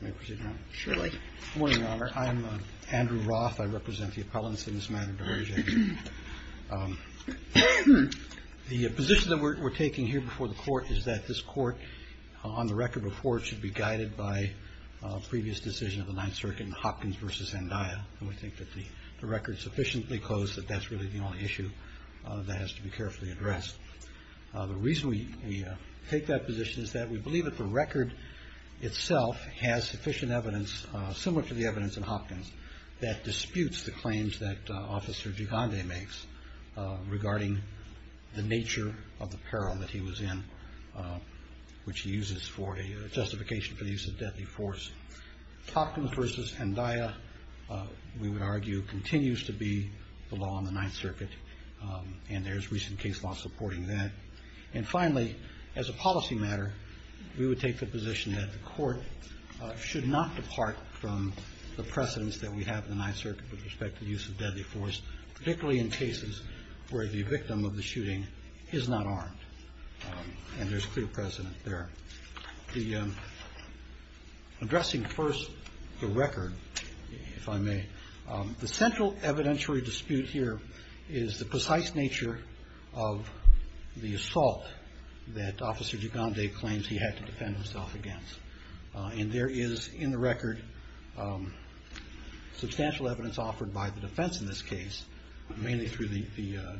Good morning, Your Honor. I'm Andrew Roth. I represent the appellants in this matter, Dehertoghe. The position that we're taking here before the Court is that this Court, on the record before it, should be guided by a previous decision of the Ninth Circuit in Hopkins v. Zendaya, and we think that the record is sufficiently close that that's really the only issue that has to be carefully addressed. The reason we take that position is that we believe that the record itself has sufficient evidence, similar to the evidence in Hopkins, that disputes the claims that Officer Gigande makes regarding the nature of the peril that he was in, which he uses for a justification for the use of deadly force. Hopkins v. Zendaya, we would argue, continues to be the law on the Ninth Circuit, and there's recent case law supporting that. And finally, as a policy matter, we would take the position that the Court should not depart from the precedence that we have in the Ninth Circuit with respect to the use of deadly force, particularly in cases where the victim of the shooting is not armed, and there's clear precedent there. Addressing first the record, if I may, the central evidentiary dispute here is the precise nature of the assault that Officer Gigande claims he had to defend himself against. And there is, in the record, substantial evidence offered by the defense in this case, mainly through the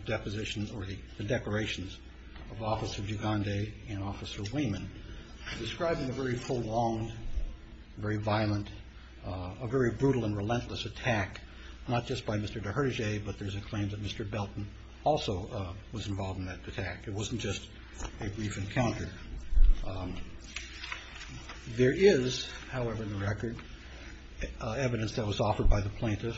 depositions or the declarations of Officer Gigande and Officer Wieman, describing a very prolonged, very violent, a very brutal and relentless attack, not just by Mr. Deherdeje, but there's a claim that Mr. Belton also was involved in that attack. It wasn't just a brief encounter. There is, however, in the record, evidence that was offered by the plaintiff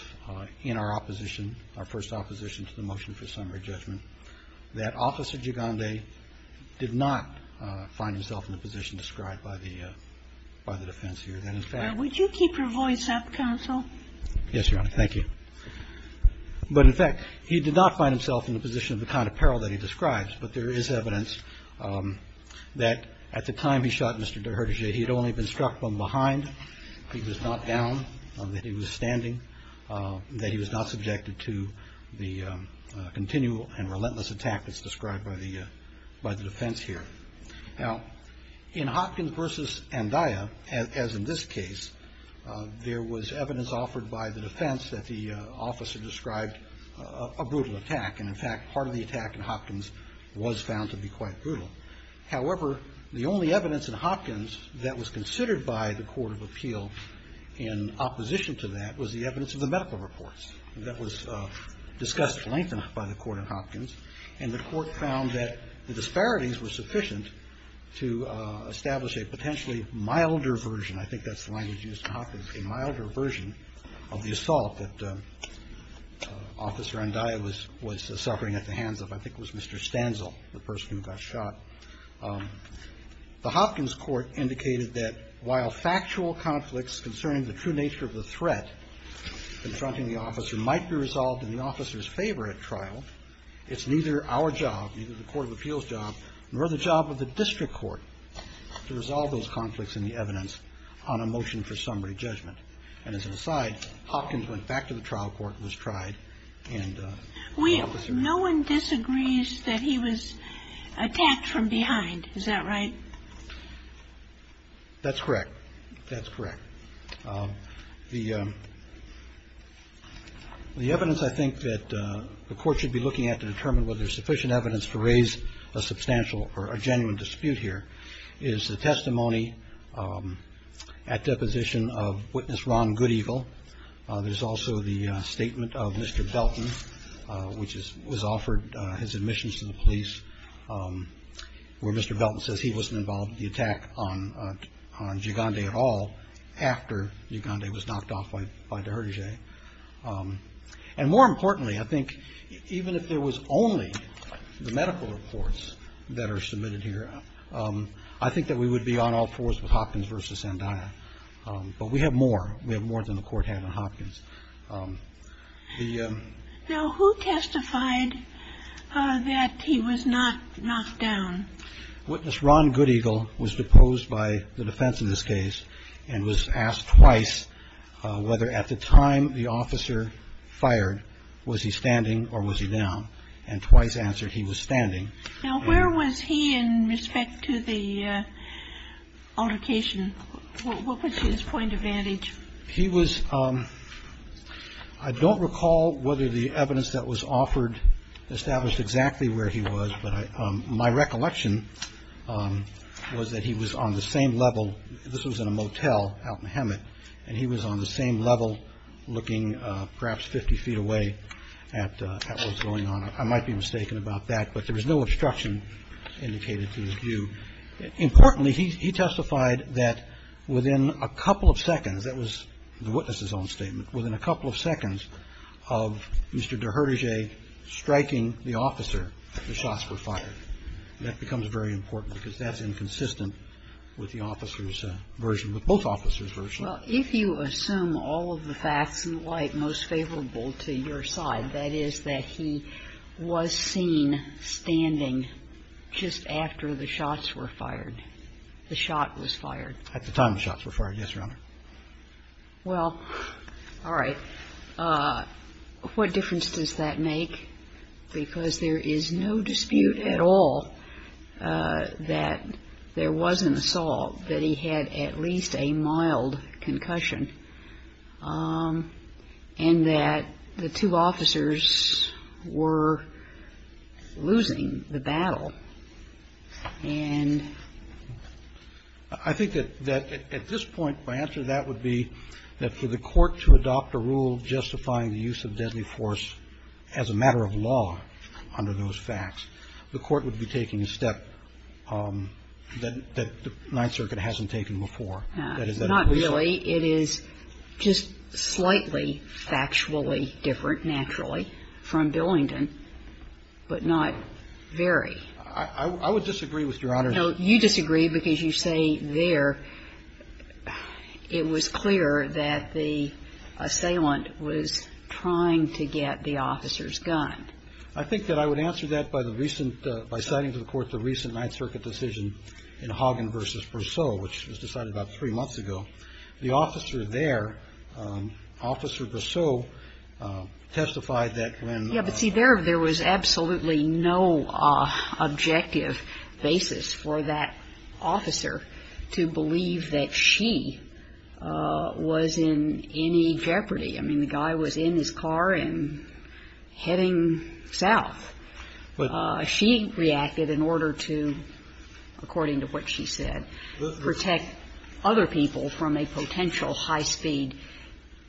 in our opposition, our first opposition to the motion for summary judgment, that Officer Gigande did not find himself in the position described by the defense here. That, in fact – Would you keep your voice up, counsel? Yes, Your Honor. Thank you. But, in fact, he did not find himself in the position of the kind of peril that he describes, but there is evidence that at the time he shot Mr. Deherdeje, he had only been struck from behind. He was not down, that he was standing, that he was not subjected to the continual and relentless attack that's described by the defense here. Now, in Hopkins v. Andaya, as in this case, there was evidence offered by the defense that the officer described a brutal attack. And, in fact, part of the attack in Hopkins was found to be quite brutal. However, the only evidence in Hopkins that was considered by the court of appeal in opposition to that was the evidence of the medical reports. And that was discussed at length by the court in Hopkins. And the court found that the disparities were sufficient to establish a potentially milder version – I think that's the language used in Hopkins – a milder version of the assault that Officer Andaya was suffering at the hands of, I think it was Mr. Stanzel, the person who got shot. The Hopkins court indicated that while factual conflicts concerning the true nature of the threat confronting the officer might be resolved in the officer's favor at trial, it's neither our job, neither the court of appeals' job, nor the job of the district court to resolve those conflicts in the evidence on a motion for summary judgment. And as an aside, Hopkins went back to the trial court and was tried, and the officer – the officer was found guilty of dijousing a witness from behind. Is that right? That's correct. That's correct. The evidence I think that the court should be looking at to determine whether there's sufficient evidence to raise a substantial or a genuine justification for the conviction, that there is sufficient evidence to do that. And I think that's a very important point, because I think it's a very important point to make when Mr. Belton says he wasn't involved in the attack on Giogondi at all after Giogondi was knocked off by Deherdejais. And more importantly, I think even if there was only the medical reports that are submitted here, I think that we would be on all fours with Hopkins versus Zendaya. But we have more. We have more than the court had on Hopkins. Now, who testified that he was not knocked down? Witness Ron Goodeagle was deposed by the defense in this case and was asked twice whether at the time the officer fired, was he standing or was he down? And twice answered he was standing. Now, where was he in respect to the altercation? What was his point of vantage? He was, I don't recall whether the evidence that was offered established exactly where he was, but my recollection was that he was on the same level. This was in a motel out in Hemet, and he was on the same level looking perhaps 50 feet away at what was going on. I might be mistaken about that, but there was no obstruction indicated to his view. Importantly, he testified that within a couple of seconds, that was the witness's own statement, within a couple of seconds of Mr. Deherdejais striking the officer, the shots were fired. And that becomes very important because that's inconsistent with the officer's version, with both officers' versions. Well, if you assume all of the facts in light most favorable to your side, that is that he was seen standing just after the shots were fired, the shot was fired. At the time the shots were fired, yes, Your Honor. Well, all right. But what difference does that make? Because there is no dispute at all that there wasn't assault, that he had at least a mild concussion, and that the two officers were losing the battle. And I think that at this point, my answer to that would be that for the Court to adopt a rule justifying the use of deadly force as a matter of law under those facts, the Court would be taking a step that the Ninth Circuit hasn't taken before. Not really. It is just slightly factually different, naturally, from Billington, but not very. I would disagree with Your Honor. No, you disagree because you say there it was clear that the assailant was trying to get the officer's gun. I think that I would answer that by the recent ñ by citing to the Court the recent Ninth Circuit decision in Hagen v. Brosseau, which was decided about three months ago. The officer there, Officer Brosseau, testified that when ñ I mean, there was no objective basis for that officer to believe that she was in any jeopardy. I mean, the guy was in his car and heading south. She reacted in order to, according to what she said, protect other people from a potential high-speed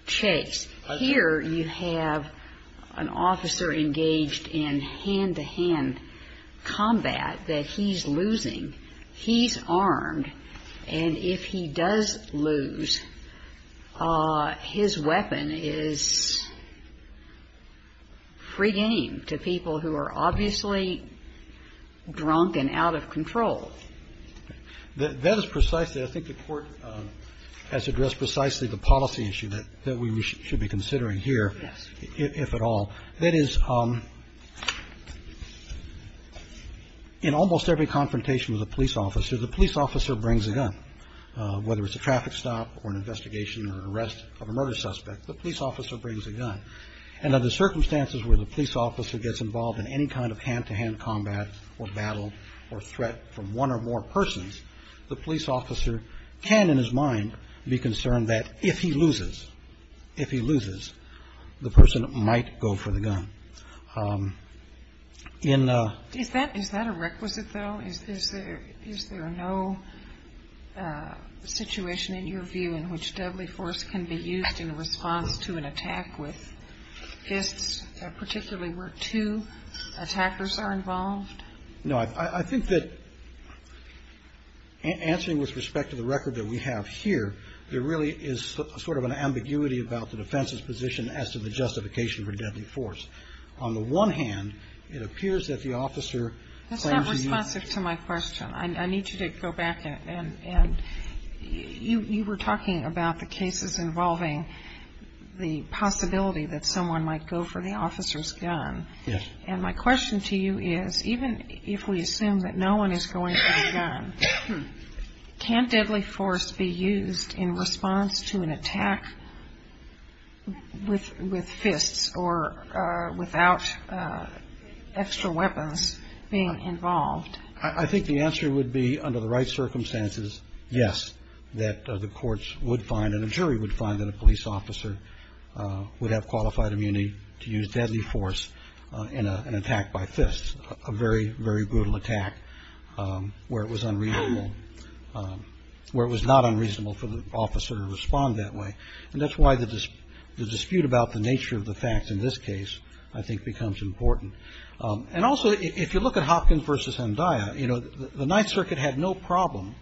chase. Here you have an officer engaged in hand-to-hand combat that he's losing. He's armed, and if he does lose, his weapon is free game to people who are obviously drunk and out of control. That is precisely ñ I think the Court has addressed precisely the policy issue that we should be considering here, if at all. That is, in almost every confrontation with a police officer, the police officer brings a gun, whether it's a traffic stop or an investigation or an arrest of a murder suspect, the police officer brings a gun. And under circumstances where the police officer gets involved in any kind of hand-to-hand combat or battle or threat from one or more persons, the police officer can, in his mind, be concerned that if he loses, if he loses, the person might go for the gun. MS. GOTTLIEB Is that a requisite, though? Is there no situation, in your view, in which deadly force can be used in response to an attack with a gun? GOTTLIEB No. I think that, answering with respect to the record that we have here, there really is sort of an ambiguity about the defense's position as to the justification for deadly force. On the one hand, it appears that the officer ñ MS. GOTTLIEB That's not responsive to my question. I need you to go back. And you were talking about the cases involving the possibility that someone might go for the officer's gun. And my question to you is, even if we assume that no one is going for the gun, can deadly force be used in response to an attack with fists or without extra weapons being involved? GOTTLIEB I think the answer would be, under the right circumstances, yes, that the courts would find and a jury would find that a police officer would have qualified immunity to use deadly force in an attack by fists, a very, very brutal attack where it was unreasonable, where it was not unreasonable for the officer to respond that way. And that's why the dispute about the nature of the facts in this case, I think, becomes important. And also, if you look at Hopkins v. Andaya, you know, the Ninth Circuit had no problem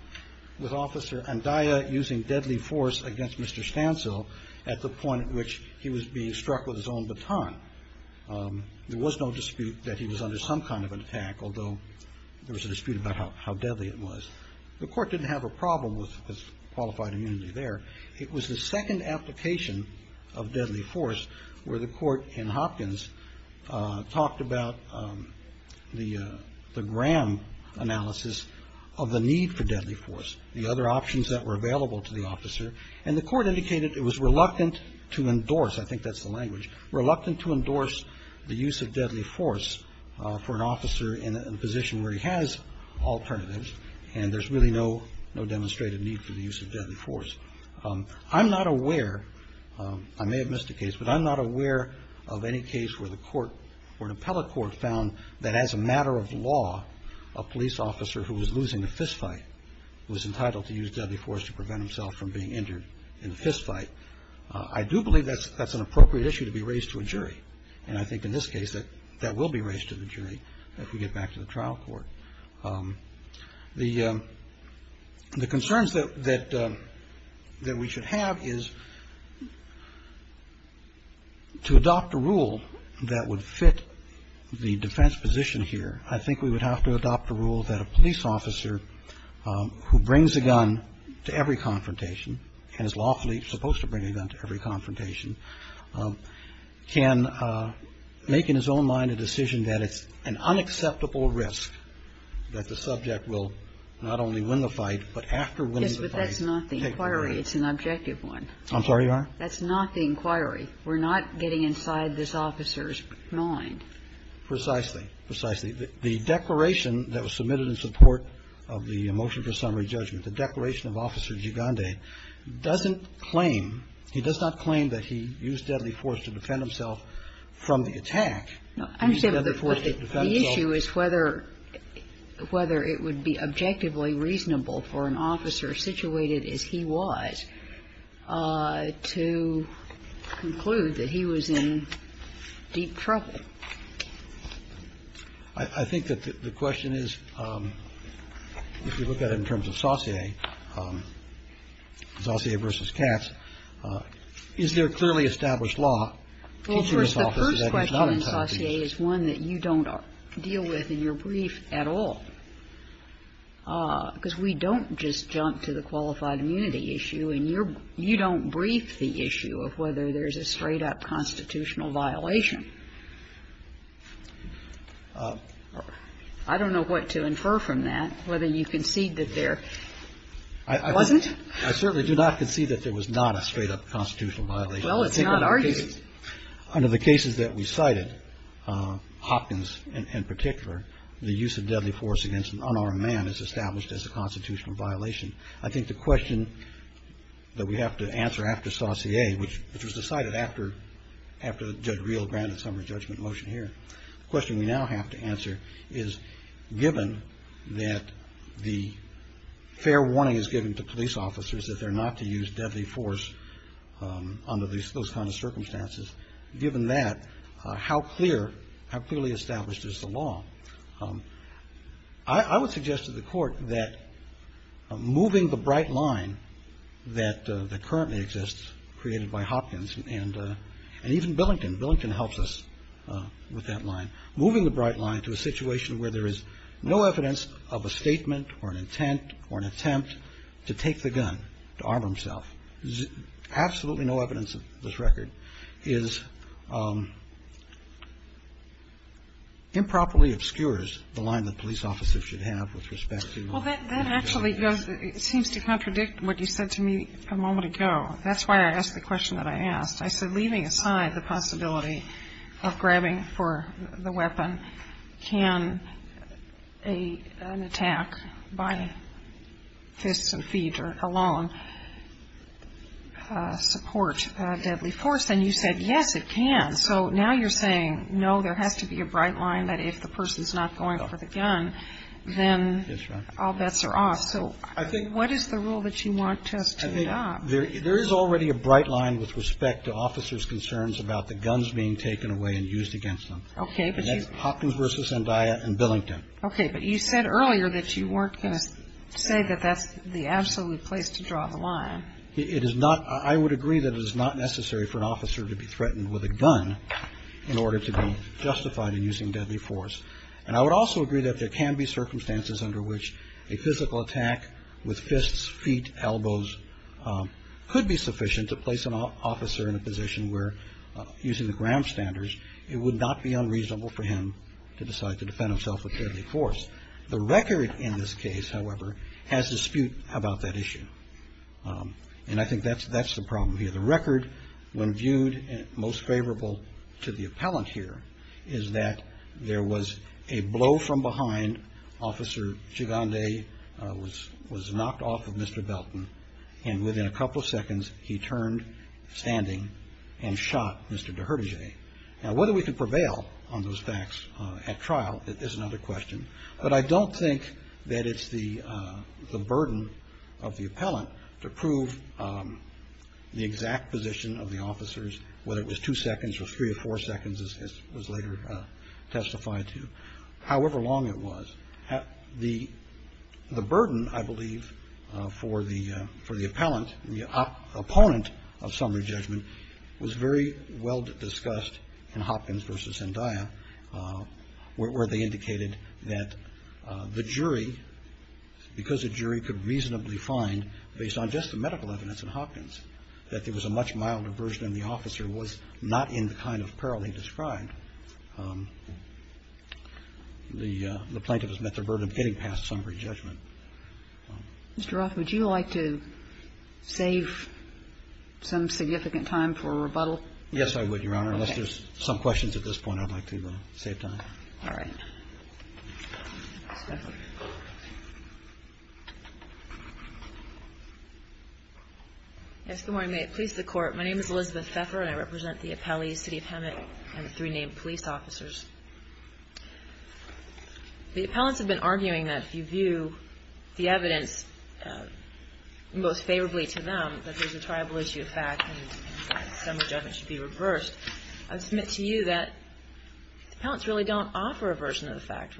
with Officer Andaya using deadly force against Mr. Stancil at the point at which he was being struck with his own baton. There was no dispute that he was under some kind of an attack, although there was a dispute about how deadly it was. The Court didn't have a problem with his qualified immunity there. It was the second application of deadly force where the Court in Hopkins talked about the Graham analysis of the need for deadly force, the other options that were available to the officer. And the Court indicated it was reluctant to endorse, I think that's the language, reluctant to endorse the use of deadly force for an officer in a position where he has alternatives and there's really no demonstrated need for the use of deadly force. I'm not aware, I may have missed a case, but I'm not aware of any case where the Court or an appellate court found that as a matter of law, a police officer who was losing a fistfight was entitled to use deadly force to prevent himself from being injured in a fistfight. I do believe that's an appropriate issue to be raised to a jury. And I think in this case that that will be raised to the jury if we get back to the trial court. The concerns that we should have is to adopt a rule that would fit the defense position here. I think we would have to adopt a rule that a police officer who brings a gun to every confrontation and is lawfully supposed to bring a gun to every confrontation can make in his own mind a decision that it's an unacceptable risk that the subject will not only win the fight, but after winning the fight take the gun. Yes, but that's not the inquiry. It's an objective one. I'm sorry, Your Honor? That's not the inquiry. We're not getting inside this officer's mind. Precisely. Precisely. The declaration that was submitted in support of the motion for summary judgment, the declaration of Officer Gigande, doesn't claim, he does not claim that he used deadly force to defend himself from the attack. No. The issue is whether it would be objectively reasonable for an officer situated as he was to conclude that he was in deep trouble. I think that the question is, if you look at it in terms of Saussure, Saussure v. Katz, is there clearly established law teaching this officer that he's not entitled to do this? Well, of course, the first question in Saussure is one that you don't deal with in your brief at all. Because we don't just jump to the qualified immunity issue, and you don't brief the issue of whether there's a straight-up constitutional violation. I don't know what to infer from that, whether you concede that there wasn't. I certainly do not concede that there was not a straight-up constitutional violation. Well, it's not. Under the cases that we cited, Hopkins in particular, the use of deadly force against an unarmed man is established as a constitutional violation. I think the question that we have to answer after Saussure, which was decided after Judge Reel granted summary judgment motion here, the question we now have to answer is, given that the fair warning is given to police officers that they're not to use deadly force under those kinds of circumstances, given that, how clear, how clearly established is the law? I would suggest to the Court that moving the bright line that currently exists created by Hopkins and even Billington, Billington helps us with that line. Moving the bright line to a situation where there is no evidence of a statement or an intent or an attempt to take the gun, to arm himself, absolutely no evidence of this record, is improperly obscures the line that police officers should have with respect to. Well, that actually seems to contradict what you said to me a moment ago. That's why I asked the question that I asked. I said, leaving aside the possibility of grabbing for the weapon, can an attack by fists and feet alone support deadly force? And you said, yes, it can. So now you're saying, no, there has to be a bright line that if the person's not going for the gun, then all bets are off. So what is the rule that you want us to adopt? There is already a bright line with respect to officers' concerns about the guns being taken away and used against them. Okay. And that's Hopkins versus Zendaya and Billington. Okay. But you said earlier that you weren't going to say that that's the absolute place to draw the line. It is not. I would agree that it is not necessary for an officer to be threatened with a gun in order to be justified in using deadly force. And I would also agree that there can be circumstances under which a physical attack with fists, feet, elbows could be sufficient to place an officer in a position where, using the Graham standards, it would not be unreasonable for him to decide to defend himself with deadly force. The record in this case, however, has dispute about that issue. And I think that's the problem here. The record, when viewed most favorable to the appellant here, is that there was a blow from behind. Officer Gigande was knocked off of Mr. Belton. And within a couple of seconds, he turned, standing, and shot Mr. Deherdige. Now, whether we can prevail on those facts at trial is another question. But I don't think that it's the burden of the appellant to prove the exact position of the officers, whether it was two seconds or three or four seconds, as was later testified to, however long it was. The burden, I believe, for the appellant, the opponent of summary judgment, was very well discussed in Hopkins v. Zendaya, where they indicated that the jury, because the jury could reasonably find, based on just the medical evidence in Hopkins, that there was a much milder version than the officer was not in the kind of peril he described. The plaintiff has met the burden of getting past summary judgment. Mr. Roth, would you like to save some significant time for rebuttal? Yes, I would, Your Honor. Okay. If there's some questions at this point, I'd like to save time. Ms. Pfeffer. Yes, good morning. May it please the Court, my name is Elizabeth Pfeffer, and I represent the appellees, City of Hemet, and three named police officers. The appellants have been arguing that if you view the evidence most favorably to them, that there's a triable issue of fact, and summary judgment should be reversed. I submit to you that the appellants really don't offer a version of the fact.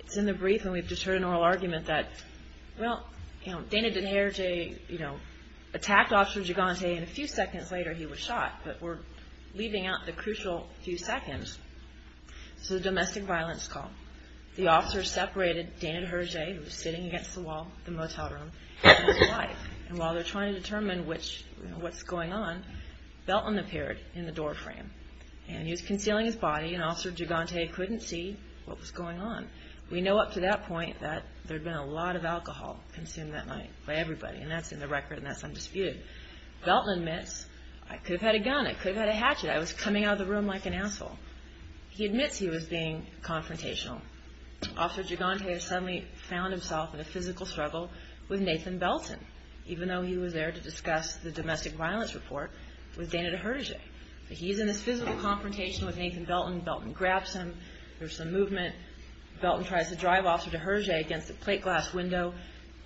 It's in the brief, and we've just heard an oral argument that, well, Dana Deherjee attacked Officer Gigante, and a few seconds later he was shot, but we're leaving out the crucial few seconds. It's a domestic violence call. The officer separated Dana Deherjee, who was sitting against the wall in the motel room, from his wife. And while they're trying to determine what's going on, Belton appeared in the door frame, and he was concealing his body, and Officer Gigante couldn't see what was going on. We know up to that point that there had been a lot of alcohol consumed that night by everybody, and that's in the record, and that's undisputed. Belton admits, I could have had a gun, I could have had a hatchet, I was coming out of the room like an asshole. He admits he was being confrontational. Officer Gigante has suddenly found himself in a physical struggle with Nathan Belton, even though he was there to discuss the domestic violence report with Dana Deherjee. He's in this physical confrontation with Nathan Belton. Belton grabs him. There's some movement. Belton tries to drive Officer Deherjee against the plate glass window.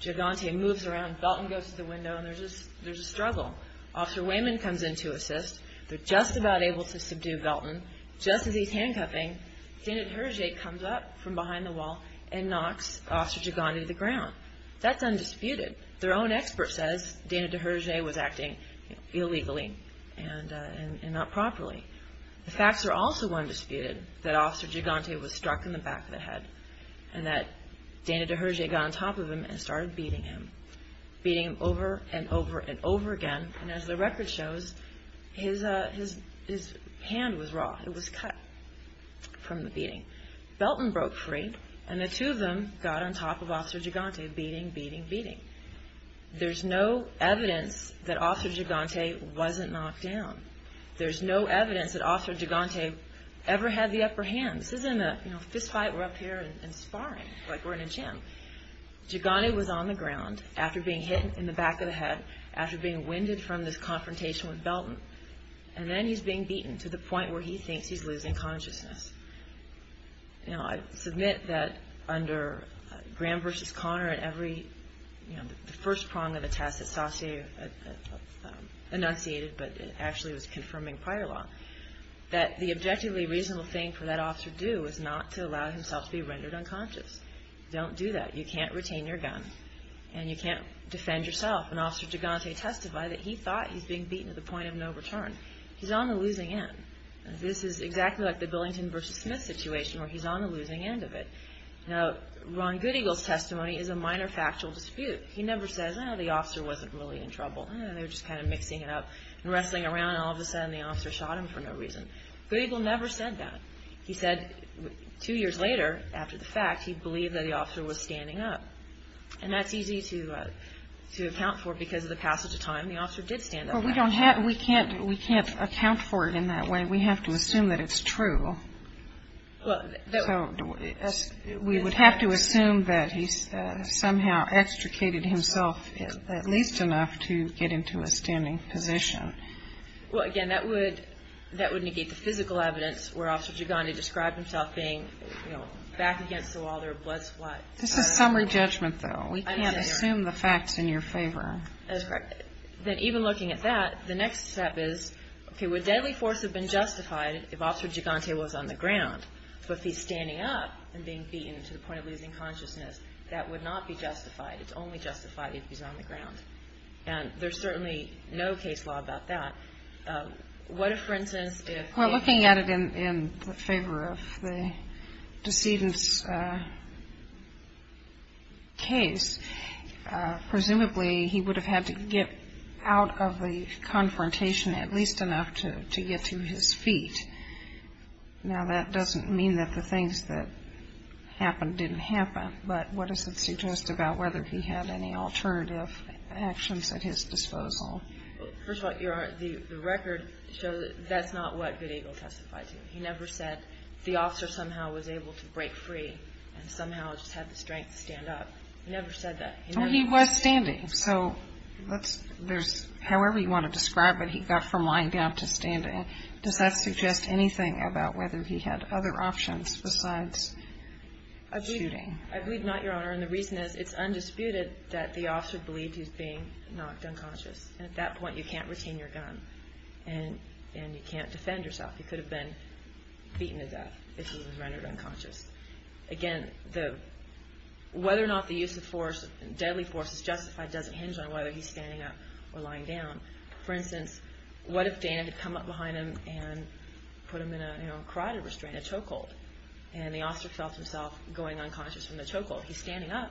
Gigante moves around. Belton goes to the window, and there's a struggle. Officer Wayman comes in to assist. They're just about able to subdue Belton. Just as he's handcuffing, Dana Deherjee comes up from behind the wall and knocks Officer Gigante to the ground. That's undisputed. Their own expert says Dana Deherjee was acting illegally and not properly. The facts are also undisputed, that Officer Gigante was struck in the back of the head and that Dana Deherjee got on top of him and started beating him, beating him over and over and over again, and as the record shows, his hand was raw. It was cut from the beating. Belton broke free, and the two of them got on top of Officer Gigante, beating, beating, beating. There's no evidence that Officer Gigante wasn't knocked down. There's no evidence that Officer Gigante ever had the upper hand. This isn't a fistfight. We're up here and sparring like we're in a gym. Gigante was on the ground after being hit in the back of the head, after being winded from this confrontation with Belton, and then he's being beaten to the point where he thinks he's losing consciousness. I submit that under Graham v. Conner, the first prong of the test that Saussure enunciated, but it actually was confirming prior law, that the objectively reasonable thing for that officer to do is not to allow himself to be rendered unconscious. Don't do that. You can't retain your gun, and you can't defend yourself. When Officer Gigante testified, he thought he was being beaten to the point of no return. He's on the losing end. This is exactly like the Billington v. Smith situation, where he's on the losing end of it. Now, Ron Goodeagle's testimony is a minor factual dispute. He never says, Oh, the officer wasn't really in trouble. They were just kind of mixing it up and wrestling around, and all of a sudden the officer shot him for no reason. Goodeagle never said that. He said two years later, after the fact, he believed that the officer was standing up. And that's easy to account for because of the passage of time. The officer did stand up. Well, we can't account for it in that way. We have to assume that it's true. So we would have to assume that he somehow extricated himself at least enough to get into a standing position. Well, again, that would negate the physical evidence where Officer Gigante described himself being back against the wall. This is summary judgment, though. We can't assume the fact's in your favor. That's correct. Then even looking at that, the next step is, okay, would deadly force have been justified if Officer Gigante was on the ground? So if he's standing up and being beaten to the point of losing consciousness, that would not be justified. It's only justified if he's on the ground. And there's certainly no case law about that. What if, for instance, if he was standing up? In that case, presumably he would have had to get out of the confrontation at least enough to get to his feet. Now, that doesn't mean that the things that happened didn't happen, but what does it suggest about whether he had any alternative actions at his disposal? First of all, the record shows that that's not what Good Eagle testifies to. He never said the officer somehow was able to break free and somehow just had the strength to stand up. He never said that. He was standing, so there's however you want to describe it. He got from lying down to standing. Does that suggest anything about whether he had other options besides shooting? I believe not, Your Honor, and the reason is it's undisputed that the officer believed he was being knocked unconscious, and at that point you can't retain your gun and you can't defend yourself. He could have been beaten to death if he was rendered unconscious. Again, whether or not the use of deadly force is justified doesn't hinge on whether he's standing up or lying down. For instance, what if Dana had come up behind him and put him in a carotid restraint, a choke hold, and the officer felt himself going unconscious from the choke hold? He's standing up.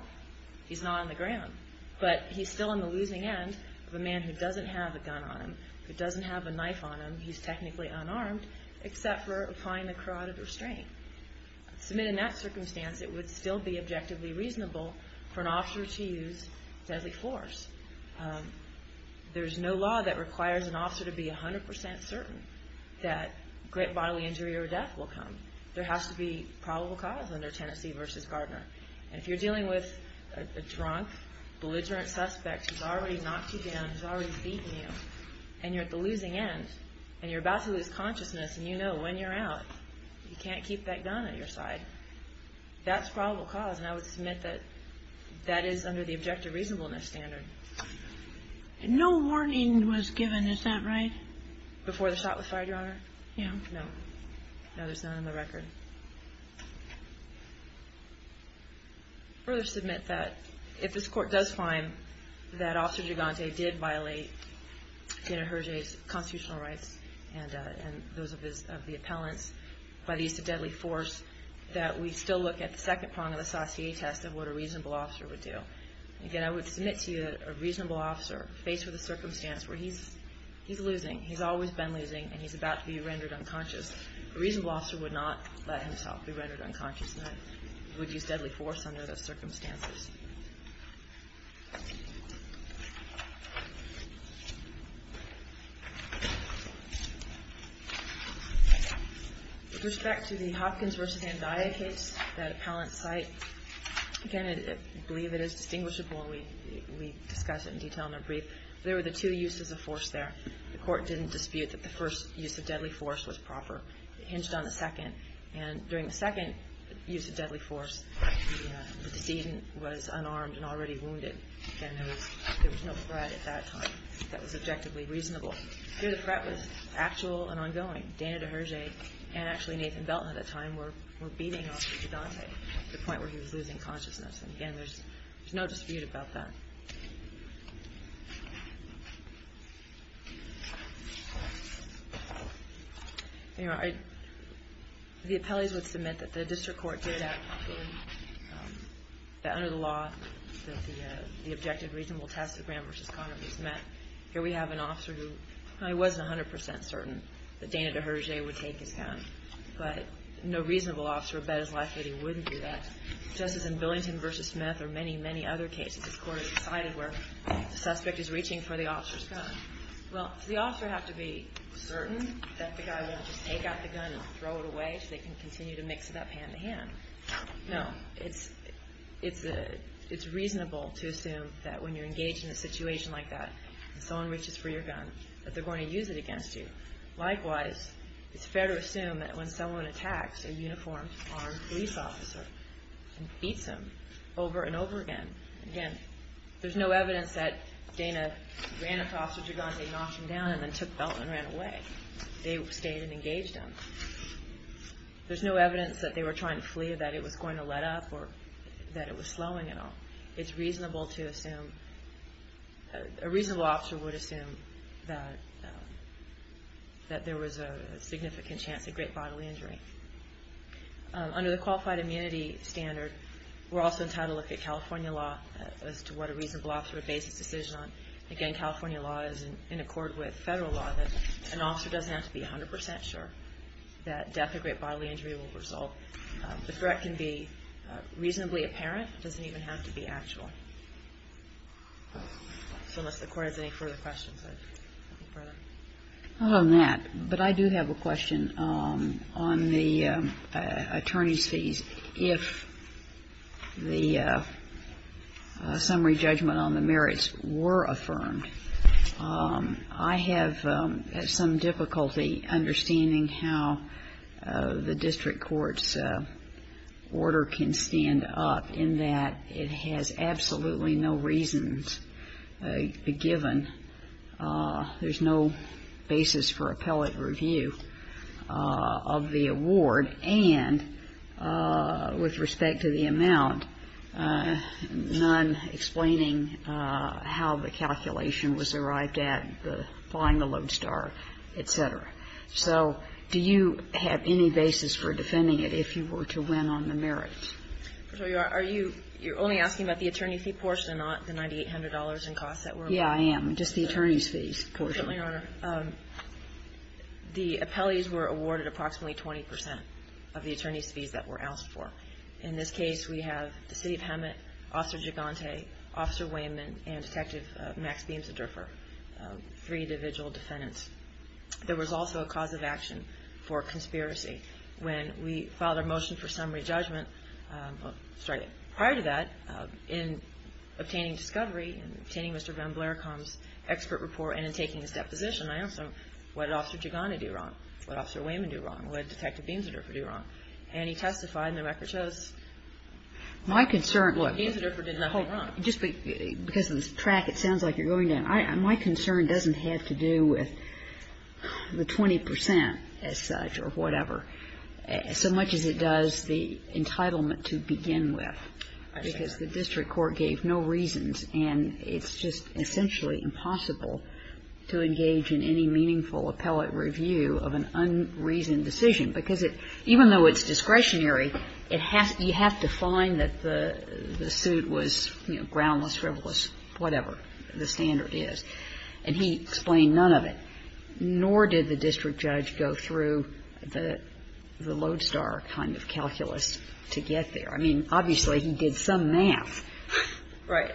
He's not on the ground. But he's still on the losing end of a man who doesn't have a gun on him, who doesn't have a knife on him. He's technically unarmed except for applying the carotid restraint. Submitted in that circumstance, it would still be objectively reasonable for an officer to use deadly force. There's no law that requires an officer to be 100% certain that great bodily injury or death will come. There has to be probable cause under Tennessee v. Gardner. If you're dealing with a drunk, belligerent suspect who's already knocked you down, who's already beaten you, and you're at the losing end, and you're about to lose consciousness, and you know when you're out, you can't keep that gun at your side. That's probable cause, and I would submit that that is under the objective reasonableness standard. No warning was given, is that right? Before the shot was fired, Your Honor? Yeah. No. No, there's none on the record. I would further submit that if this court does find that Officer Gigante did violate Daniel Hergé's constitutional rights and those of the appellants by the use of deadly force, that we still look at the second prong of the Saussure test of what a reasonable officer would do. Again, I would submit to you that a reasonable officer, faced with a circumstance where he's losing, he's always been losing, and he's about to be rendered unconscious, a reasonable officer would not let himself be rendered unconscious and would use deadly force under those circumstances. With respect to the Hopkins v. Andaya case, that appellant's site, again, I believe it is distinguishable. We discussed it in detail in a brief. There were the two uses of force there. The court didn't dispute that the first use of deadly force was proper. It hinged on the second. And during the second use of deadly force, the decedent was unarmed and already wounded, and there was no threat at that time that was objectively reasonable. Here the threat was actual and ongoing. Daniel Hergé and actually Nathan Belton at that time were beating Officer Gigante to the point where he was losing consciousness. And again, there's no dispute about that. The appellees would submit that the district court did that, that under the law, the objective reasonable test of Graham v. Conner v. Smith. Here we have an officer who probably wasn't 100% certain that Daniel Hergé would take his gun, but no reasonable officer would bet his life that he wouldn't do that. Just as in Billington v. Smith or many, many other cases, this court has decided where the suspect is reaching for the officer's gun. Well, does the officer have to be certain that the guy won't just take out the gun and throw it away so they can continue to mix it up hand-in-hand? No. It's reasonable to assume that when you're engaged in a situation like that and someone reaches for your gun, that they're going to use it against you. Likewise, it's fair to assume that when someone attacks a uniformed armed police officer and beats him over and over again, there's no evidence that Dana ran across with your gun, they knocked him down, and then took the belt and ran away. They stayed and engaged him. There's no evidence that they were trying to flee, that it was going to let up, or that it was slowing at all. It's reasonable to assume, a reasonable officer would assume that there was a significant chance of great bodily injury. Under the Qualified Immunity Standard, we're also entitled to look at California law as to what a reasonable officer would base his decision on. Again, California law is in accord with federal law that an officer doesn't have to be 100% sure that death or great bodily injury will result. The threat can be reasonably apparent. It doesn't even have to be actual. So unless the Court has any further questions, I'd move further. Not on that, but I do have a question on the attorney's fees. If the summary judgment on the merits were affirmed, I have some difficulty understanding how the district court's order can stand up, in that it has absolutely no reasons given. There's no basis for appellate review of the award. And with respect to the amount, none explaining how the calculation was arrived at, the flying the lodestar, et cetera. So do you have any basis for defending it if you were to win on the merits? So are you only asking about the attorney fee portion and not the $9,800 in costs that were awarded? Yeah, I am. Just the attorney's fees portion. Certainly, Your Honor. The appellees were awarded approximately 20% of the attorney's fees that were asked for. In this case, we have the City of Hemet, Officer Gigante, Officer Wayman, and Detective Max Beams, a drifter, three individual defendants. There was also a cause of action for conspiracy. When we filed our motion for summary judgment, prior to that, in obtaining discovery, in obtaining Mr. Van Blaerkamp's expert report and in taking his deposition, I asked him, what did Officer Gigante do wrong? What did Officer Wayman do wrong? What did Detective Beams, a drifter, do wrong? And he testified, and the record shows Beams, a drifter, did nothing wrong. Just because of the track, it sounds like you're going down. My concern doesn't have to do with the 20% as such or whatever, so much as it does the entitlement to begin with, because the district court gave no reasons, and it's just essentially impossible to engage in any meaningful appellate review of an unreasoned decision, because even though it's discretionary, you have to find that the suit was groundless, frivolous, whatever the standard is. And he explained none of it, nor did the district judge go through the lodestar kind of calculus to get there. I mean, obviously, he did some math. Right.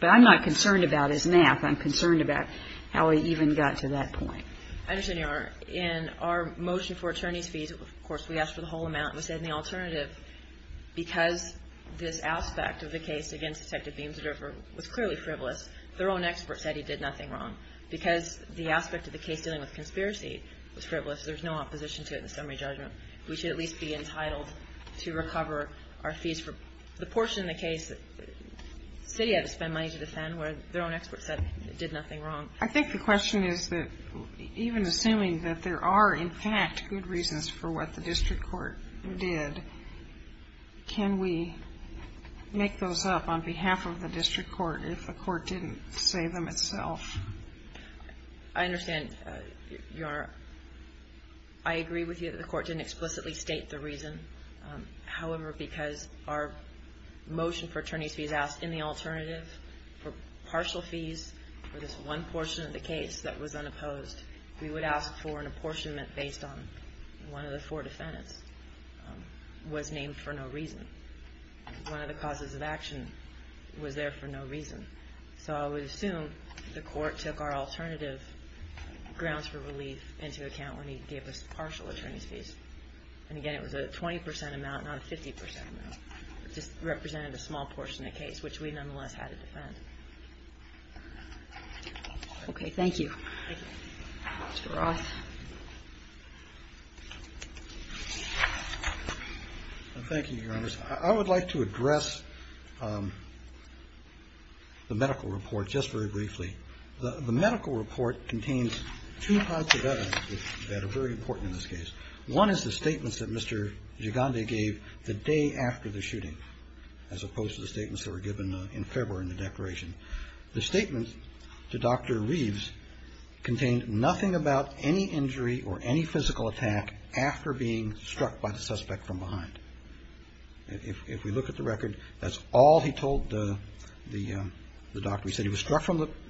But I'm not concerned about his math. I'm concerned about how he even got to that point. I understand, Your Honor. In our motion for attorney's fees, of course, we asked for the whole amount. We said in the alternative, because this aspect of the case against Detective Beams, a drifter, was clearly frivolous, their own expert said he did nothing wrong. Because the aspect of the case dealing with conspiracy was frivolous, there's no opposition to it in the summary judgment. We should at least be entitled to recover our fees for the portion of the case that the city had to spend money to defend, where their own expert said it did nothing wrong. I think the question is that even assuming that there are, in fact, good reasons for what the district court did, can we make those up on behalf of the district court if the court didn't say them itself? I understand, Your Honor. I agree with you that the court didn't explicitly state the reason. However, because our motion for attorney's fees asked in the alternative for partial fees for this one portion of the case that was unopposed, we would ask for an apportionment based on one of the four defendants was named for no reason. One of the causes of action was there for no reason. So I would assume the court took our alternative grounds for relief into account when he gave us partial attorney's fees. And again, it was a 20 percent amount, not a 50 percent amount. It just represented a small portion of the case, which we nonetheless had to defend. Okay. Thank you. Thank you. Mr. Roth. Thank you, Your Honor. I would like to address the medical report just very briefly. The medical report contains two parts of evidence that are very important in this case. One is the statements that Mr. Gigande gave the day after the shooting as opposed to the statements that were given in February in the declaration. The statement to Dr. Reeves contained nothing about any injury or any physical attack after being struck by the suspect from behind. If we look at the record, that's all he told the doctor. He said he was struck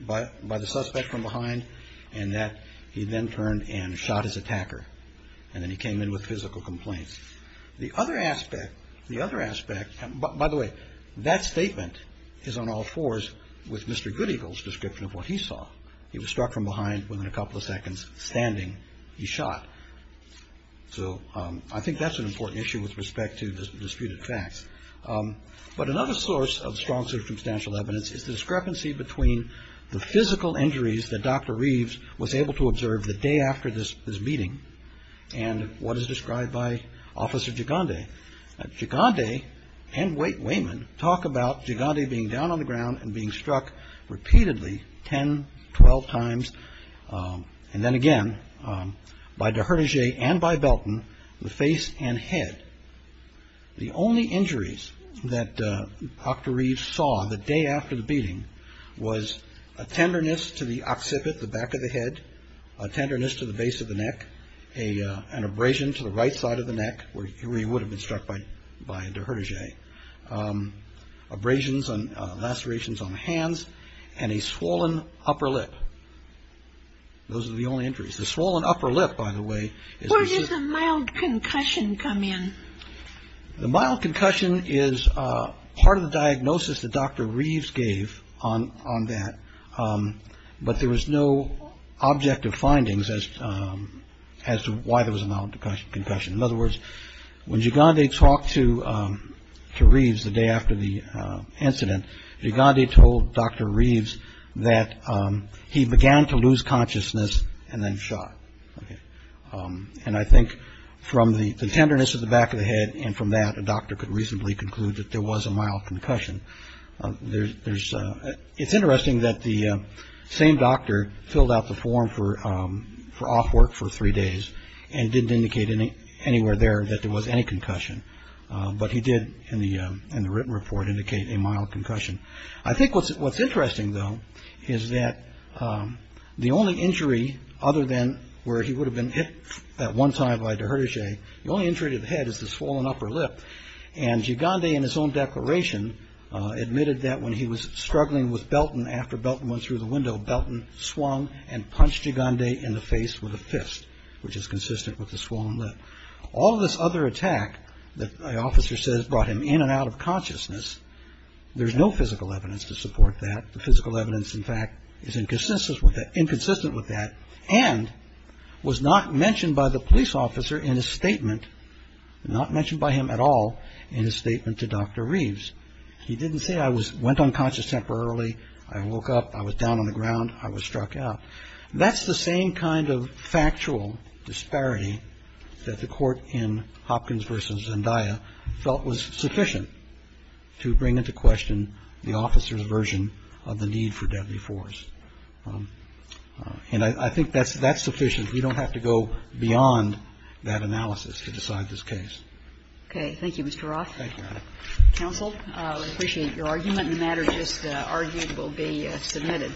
by the suspect from behind and that he then turned and shot his and then he came in with physical complaints. The other aspect, the other aspect, by the way, that statement is on all fours with Mr. Goodeagle's description of what he saw. He was struck from behind. Within a couple of seconds standing, he shot. So I think that's an important issue with respect to disputed facts. But another source of strong circumstantial evidence is the discrepancy between the physical injuries that Dr. Reeves was able to observe the day after this meeting and what is described by Officer Gigande. Gigande and Wayman talk about Gigande being down on the ground and being struck repeatedly 10, 12 times and then again by Deherdige and by Belton, the face and head. The only injuries that Dr. Reeves saw the day after the beating was a tenderness to the occipit, the back of the head, a tenderness to the base of the neck, an abrasion to the right side of the neck where he would have been struck by Deherdige, abrasions and lacerations on the hands, and a swollen upper lip. Those are the only injuries. The swollen upper lip, by the way. Where does the mild concussion come in? The mild concussion is part of the diagnosis that Dr. Reeves gave on that. But there was no objective findings as to why there was a mild concussion. In other words, when Gigande talked to Reeves the day after the incident, Gigande told Dr. Reeves that he began to lose consciousness and then shot. And I think from the tenderness of the back of the head and from that, a doctor could reasonably conclude that there was a mild concussion. It's interesting that the same doctor filled out the form for off work for three days and didn't indicate anywhere there that there was any concussion. But he did in the written report indicate a mild concussion. I think what's interesting, though, is that the only injury other than where he would have been hit that one time by Deherdige, the only injury to the head is the swollen upper lip. And Gigande in his own declaration admitted that when he was struggling with Belton, after Belton went through the window, Belton swung and punched Gigande in the face with a fist, which is consistent with the swollen lip. All of this other attack that the officer says brought him in and out of consciousness, there's no physical evidence to support that. The physical evidence, in fact, is inconsistent with that and was not mentioned by the police officer in his statement, not mentioned by him at all in his statement to Dr. Reeves. He didn't say I went unconscious temporarily, I woke up, I was down on the ground, I was struck out. That's the same kind of factual disparity that the Court in Hopkins v. Zendaya felt was sufficient to bring into question the officer's version of the need for deadly force. And I think that's sufficient. We don't have to go beyond that analysis to decide this case. Okay. Thank you, Mr. Roth. Thank you, Your Honor. Counsel, I appreciate your argument. The matter just argued will be submitted.